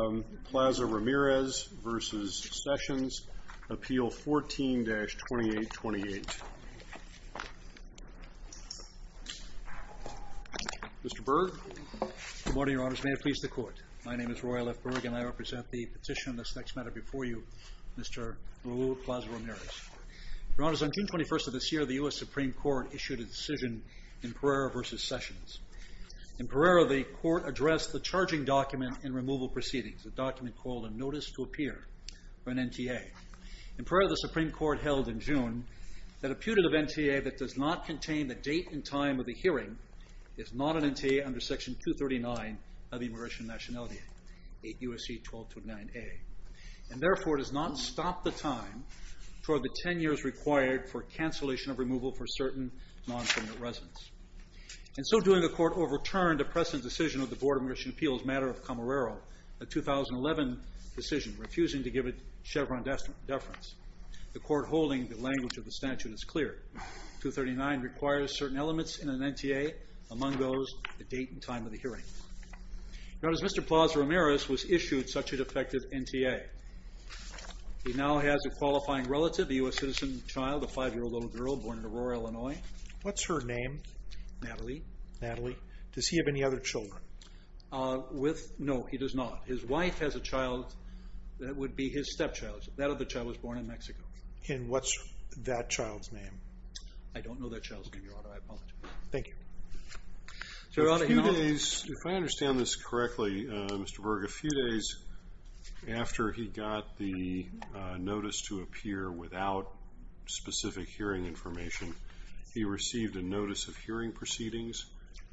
Raul Plaza-Ramirez v. Sessions, Appeal 14-2828. Mr. Berg? Good morning, Your Honors. May it please the Court. My name is Roy L. Berg and I represent the petition on this next matter before you, Mr. Raul Plaza-Ramirez. Your Honors, on June 21st of this year, the U.S. Supreme Court issued a decision in Pereira v. Sessions. In Pereira, the Court addressed the charging document in removal proceedings, a document called a Notice to Appear for an NTA. In Pereira, the Supreme Court held in June that a putative NTA that does not contain the date and time of the hearing is not an NTA under Section 239 of the Immigration and Nationality Act, 8 U.S.C. 1229a, and therefore does not stop the time toward the 10 years required for cancellation of removal for certain non-prisoner residents. And so doing, the Court overturned a precedent decision of the Board of Immigration Appeals, matter of Camarero, a 2011 decision, refusing to give it Chevron deference. The Court holding the language of the statute is clear. 239 requires certain elements in an NTA, among those the date and time of the hearing. Your Honors, Mr. Plaza-Ramirez was issued such a defective NTA. He now has a qualifying relative, a U.S. citizen child, a 5-year-old little girl born in Aurora, Illinois. What's her name? Natalie. Natalie. Does he have any other children? With? No, he does not. His wife has a child that would be his stepchild. That other child was born in Mexico. And what's that child's name? I don't know that child's name, Your Honor. I apologize. Thank you. Your Honor, he now has... A few days, if I understand this correctly, Mr. Berg, a few days after he got the notice to appear without specific hearing information, he received a notice of hearing proceedings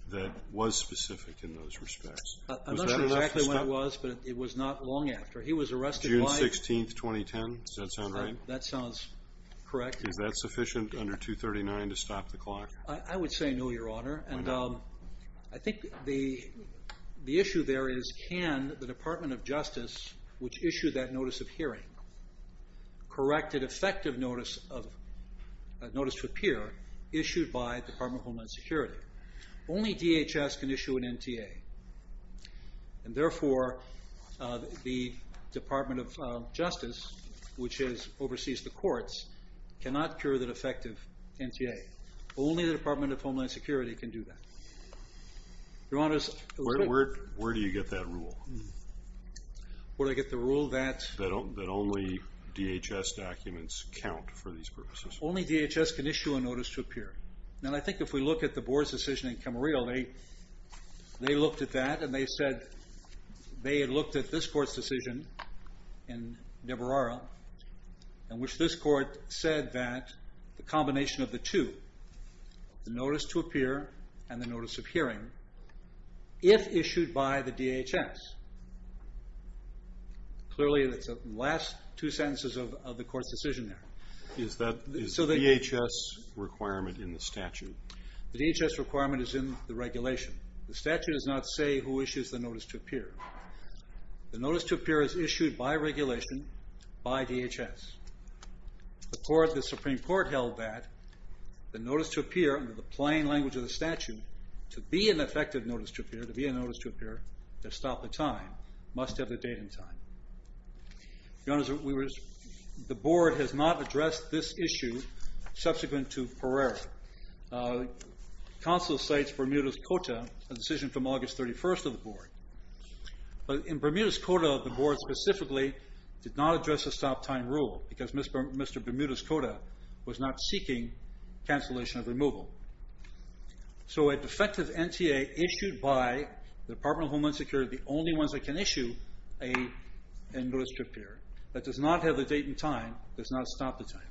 that was specific in those respects. I'm not sure exactly when it was, but it was not long after. He was arrested... June 16, 2010. Does that sound right? That sounds correct. Is that sufficient under 239 to stop the clock? I would say no, Your Honor. And I think the issue there is can the Department of Justice, which issued that notice of hearing, correct an effective notice to appear issued by the Department of Homeland Security? Only DHS can issue an NTA. And therefore, the Department of Justice, which oversees the courts, cannot cure that effective NTA. Only the Department of Homeland Security can do that. Your Honor, it was... Where do you get that rule? Where do I get the rule that... that only DHS documents count for these purposes? Only DHS can issue a notice to appear. Now, I think if we look at the board's decision in Camarillo, they looked at that and they said... they had looked at this court's decision in Nebrara, in which this court said that the combination of the two, the notice to appear and the notice of hearing, if issued by the DHS. Clearly, that's the last two sentences of the court's decision there. Is DHS requirement in the statute? The DHS requirement is in the regulation. The statute does not say who issues the notice to appear. The notice to appear is issued by regulation by DHS. The Supreme Court held that the notice to appear, under the plain language of the statute, to be an effective notice to appear, to be a notice to appear, to stop the time, must have a date and time. Your Honor, the board has not addressed this issue subsequent to Pereira. Counsel cites Bermuda's Coda, a decision from August 31st of the board. But in Bermuda's Coda, the board specifically did not address the stop time rule, because Mr. Bermuda's Coda was not seeking cancellation of removal. So a defective NTA issued by the Department of Homeland Security, the only ones that can issue a notice to appear, that does not have a date and time, does not stop the time.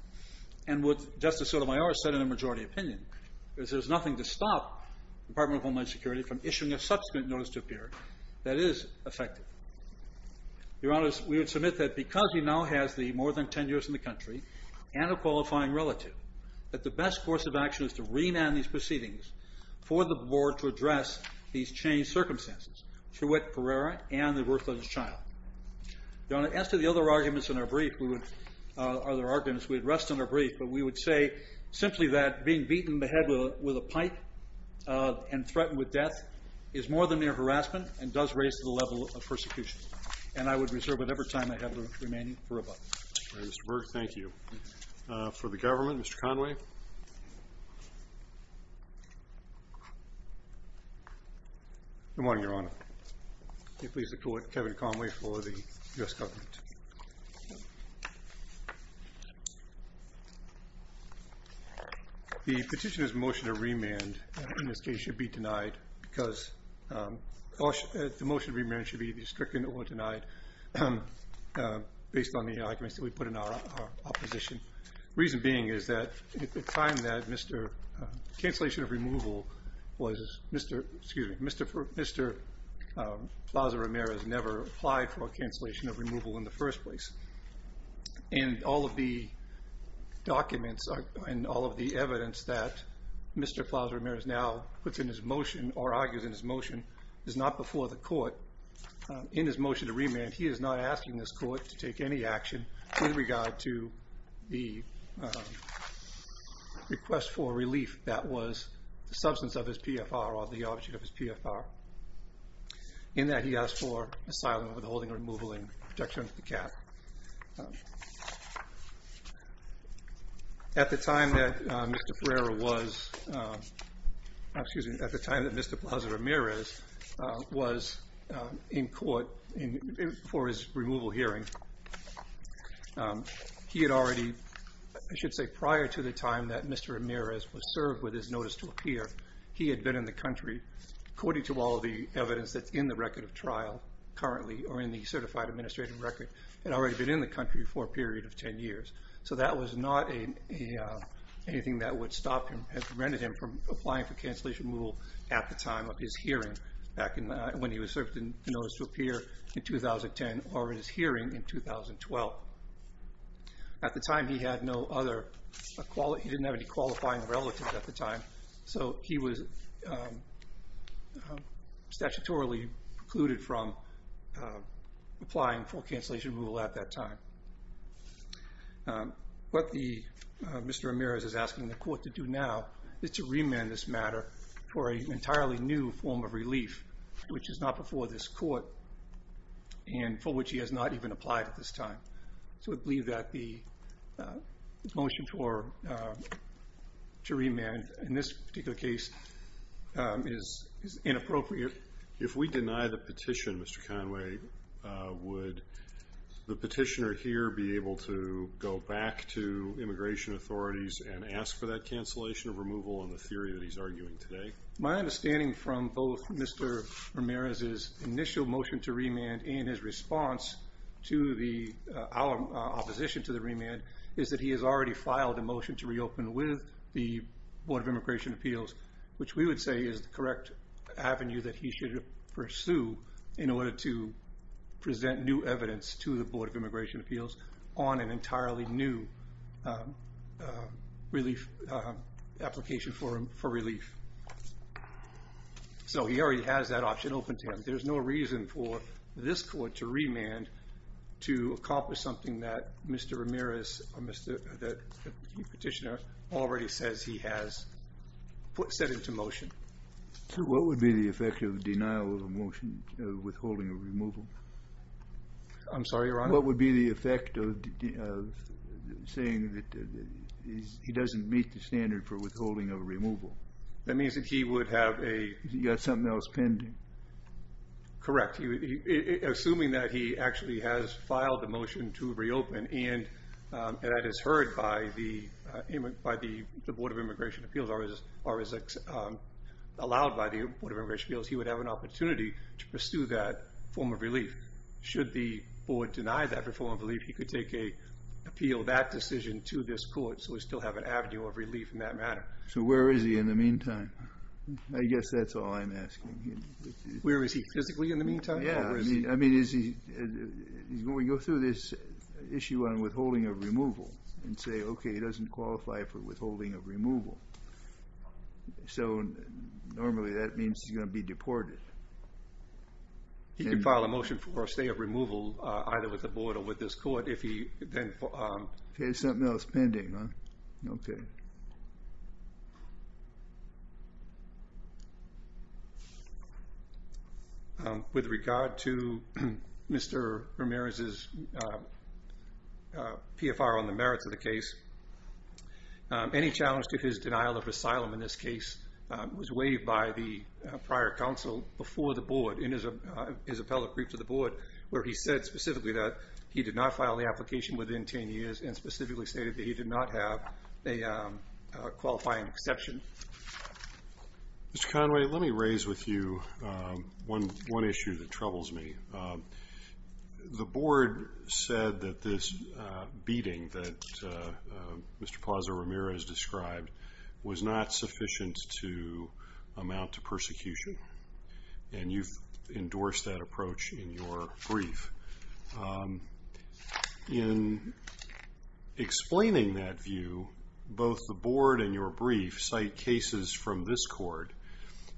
And what Justice Sotomayor said in a majority opinion is there's nothing to stop the Department of Homeland Security from issuing a subsequent notice to appear that is effective. Your Honor, we would submit that because he now has more than 10 years in the country and a qualifying relative, that the best course of action is to remand these proceedings for the board to address these changed circumstances, through which Pereira and the birth of his child. Your Honor, as to the other arguments in our brief, we would rest on our brief, but we would say simply that being beaten in the head with a pipe and threatened with death is more than mere harassment and does raise the level of persecution. And I would reserve whatever time I have remaining for rebuttal. All right, Mr. Berg, thank you. For the government, Mr. Conway. Good morning, Your Honor. May it please the Court, Kevin Conway for the U.S. government. The petitioner's motion to remand in this case should be denied because the motion to remand should be either stricken or denied based on the arguments that we put in our opposition. Reason being is that at the time that Mr. Plaza-Ramirez never applied for a cancellation of removal in the first place. And all of the documents and all of the evidence that Mr. Plaza-Ramirez now puts in his motion or argues in his motion is not before the Court. In his motion to remand, he is not asking this Court to take any action in regard to the request for relief that was the substance of his PFR or the object of his PFR. In that, he asked for asylum, withholding, removal, and protection of the cap. At the time that Mr. Ferreira was, excuse me, at the time that Mr. Plaza-Ramirez was in court for his removal hearing, he had already, I should say prior to the time that Mr. Ramirez was served with his notice to appear, he had been in the country, according to all of the evidence that's in the record of trial currently or in the certified administrative record, had already been in the country for a period of 10 years. So that was not anything that would stop him or prevent him from applying for cancellation of removal at the time of his hearing back when he was served with the notice to appear in 2010 or his hearing in 2012. At the time, he had no other, he didn't have any qualifying relatives at the time, so he was statutorily precluded from applying for cancellation of removal at that time. What Mr. Ramirez is asking the court to do now is to remand this matter for an entirely new form of relief, which is not before this court and for which he has not even applied at this time. So we believe that the motion to remand in this particular case is inappropriate. If we deny the petition, Mr. Conway, would the petitioner here be able to go back to immigration authorities and ask for that cancellation of removal in the theory that he's arguing today? My understanding from both Mr. Ramirez's initial motion to remand and his response to our opposition to the remand is that he has already filed a motion to reopen with the Board of Immigration Appeals, which we would say is the correct avenue that he should pursue in order to present new evidence to the Board of Immigration Appeals on an entirely new application for relief. So he already has that option open to him. There's no reason for this court to remand to accomplish something that Mr. Ramirez, the petitioner, already says he has set into motion. What would be the effect of the denial of a motion of withholding of removal? I'm sorry, Your Honor? What would be the effect of saying that he doesn't meet the standard for withholding of removal? That means that he would have a... He's got something else pending. Correct. Assuming that he actually has filed a motion to reopen, and that is heard by the Board of Immigration Appeals, or is allowed by the Board of Immigration Appeals, he would have an opportunity to pursue that form of relief. Should the Board deny that form of relief, he could take a... appeal that decision to this court so we still have an avenue of relief in that matter. So where is he in the meantime? I guess that's all I'm asking. Where is he physically in the meantime? Yeah, I mean, is he... When we go through this issue on withholding of removal and say, okay, he doesn't qualify for withholding of removal. So normally that means he's going to be deported. He can file a motion for a stay of removal either with the Board or with this court if he then... He has something else pending, huh? Okay. Okay. With regard to Mr. Ramirez's PFR on the merits of the case, any challenge to his denial of asylum in this case was waived by the prior counsel before the Board in his appellate brief to the Board, where he said specifically that he did not file the application within 10 years and specifically stated that he did not have a qualifying exception. Mr. Conway, let me raise with you one issue that troubles me. The Board said that this beating that Mr. Plaza-Ramirez described was not sufficient to amount to persecution, and you've endorsed that approach in your brief. In explaining that view, both the Board and your brief cite cases from this court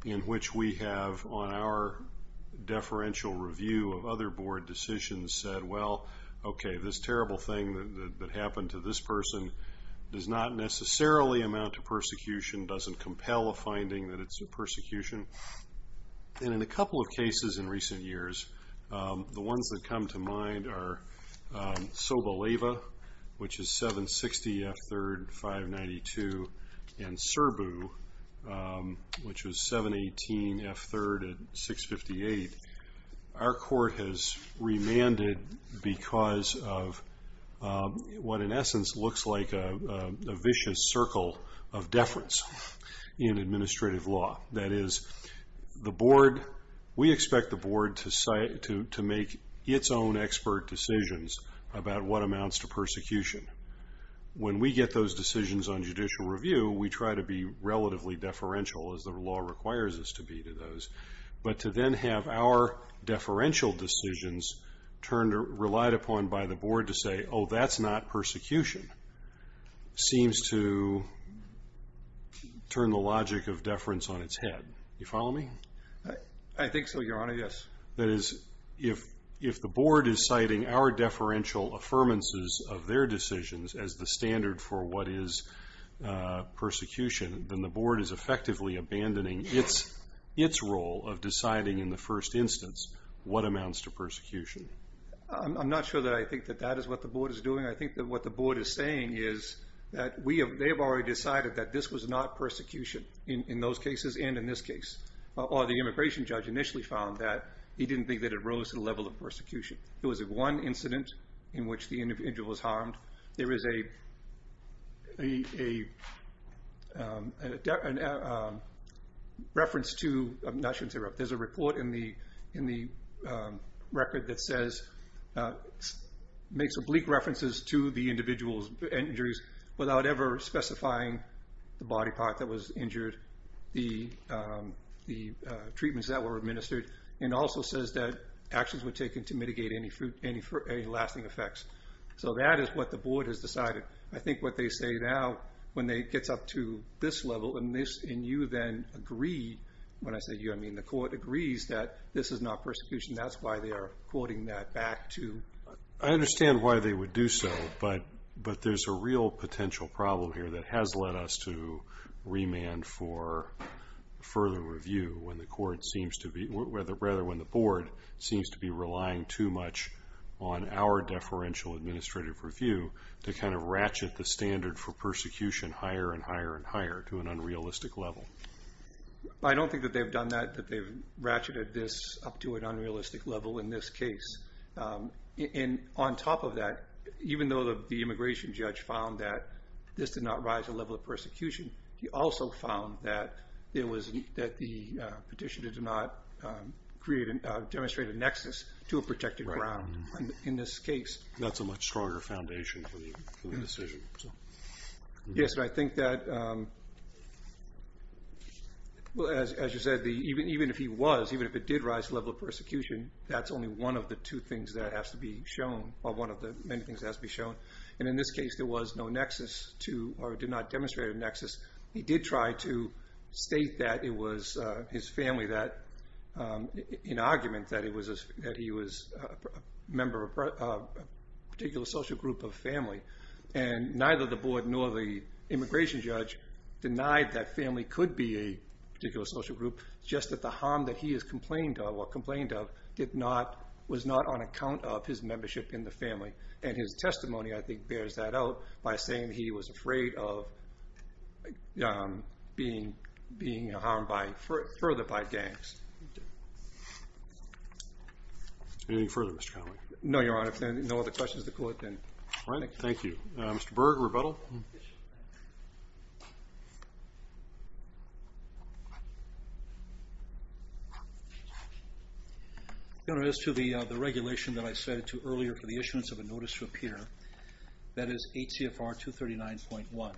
in which we have on our deferential review of other Board decisions said, well, okay, this terrible thing that happened to this person does not necessarily amount to persecution, doesn't compel a finding that it's a persecution. And in a couple of cases in recent years, the ones that come to mind are Soboleva, which is 760 F3rd, 592, and Serbu, which was 718 F3rd at 658. Our court has remanded because of what in essence looks like a vicious circle of deference in administrative law. That is, we expect the Board to make its own expert decisions about what amounts to persecution. When we get those decisions on judicial review, we try to be relatively deferential, as the law requires us to be to those. But to then have our deferential decisions relied upon by the Board to say, oh, that's not persecution, seems to turn the logic of deference on its head. Do you follow me? I think so, Your Honor, yes. That is, if the Board is citing our deferential affirmances of their decisions as the standard for what is persecution, then the Board is effectively abandoning its role of deciding in the first instance what amounts to persecution. I'm not sure that I think that that is what the Board is doing. I think that what the Board is saying is that they have already decided that this was not persecution in those cases and in this case, or the immigration judge initially found that he didn't think that it rose to the level of persecution. It was one incident in which the individual was harmed. There is a reference to, I'm not sure, there's a report in the record that says, makes oblique references to the individual's injuries without ever specifying the body part that was injured, the treatments that were administered, and also says that actions were taken to mitigate any lasting effects. So that is what the Board has decided. I think what they say now, when it gets up to this level, and you then agree, when I say you, I mean the Court, the Court agrees that this is not persecution. That's why they are quoting that back to. I understand why they would do so, but there's a real potential problem here that has led us to remand for further review when the Board seems to be relying too much on our deferential administrative review to kind of ratchet the standard for persecution higher and higher and higher to an unrealistic level. I don't think that they've done that, that they've ratcheted this up to an unrealistic level in this case. And on top of that, even though the immigration judge found that this did not rise to the level of persecution, he also found that the petition did not demonstrate a nexus to a protected ground in this case. That's a much stronger foundation for the decision. Yes, and I think that, as you said, even if he was, even if it did rise to the level of persecution, that's only one of the two things that has to be shown, or one of the many things that has to be shown. And in this case, there was no nexus to, or did not demonstrate a nexus. He did try to state that it was his family that, in argument, that he was a member of a particular social group of family. And neither the board nor the immigration judge denied that family could be a particular social group, just that the harm that he has complained of, or complained of, did not, was not on account of his membership in the family. And his testimony, I think, bears that out by saying he was afraid of being harmed further by gangs. Anything further, Mr. Connelly? No, Your Honor. If there are no other questions of the Court, then I thank you. Thank you. Mr. Berg, rebuttal? Your Honor, as to the regulation that I cited earlier for the issuance of a notice to appear, that is ACFR 239.1.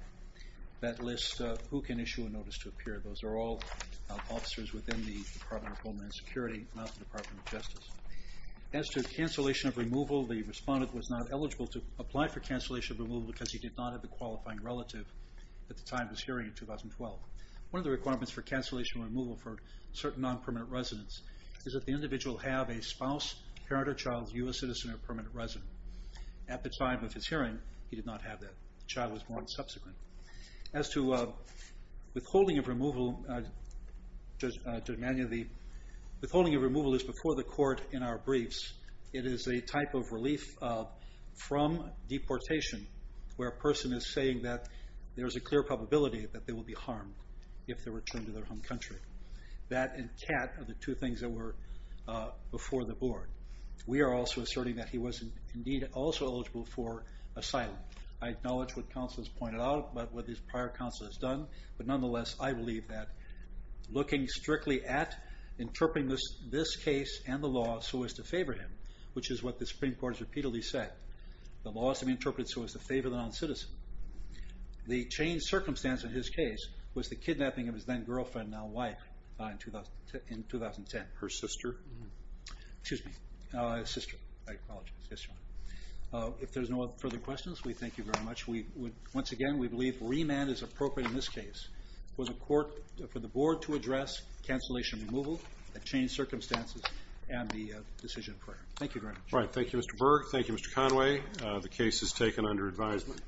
That lists who can issue a notice to appear. Those are all officers within the Department of Homeland Security, not the Department of Justice. As to cancellation of removal, the respondent was not eligible to apply for cancellation of removal because he did not have a qualifying relative at the time of his hearing in 2012. One of the requirements for cancellation of removal for certain non-permanent residents is that the individual have a spouse, parent or child, U.S. citizen, or permanent resident. At the time of his hearing, he did not have that. The child was born subsequent. As to withholding of removal, Judge Emanuel, withholding of removal is before the Court in our briefs. It is a type of relief from deportation where a person is saying that there is a clear probability that they will be harmed if they return to their home country. That and CAT are the two things that were before the Board. We are also asserting that he was indeed also eligible for asylum. I acknowledge what counsel has pointed out, what the prior counsel has done, but nonetheless I believe that looking strictly at interpreting this case and the law so as to favor him, which is what the Supreme Court has repeatedly said, the law is to be interpreted so as to favor the non-citizen. The changed circumstance in his case was the kidnapping of his then girlfriend, now wife, in 2010. Her sister. Excuse me. Sister. I apologize. Yes, John. If there are no further questions, we thank you very much. Once again, we believe remand is appropriate in this case for the Board to address cancellation of removal, the changed circumstances, and the decision prior. Thank you very much. All right. Thank you, Mr. Berg. Thank you, Mr. Conway. The case is taken under advisement.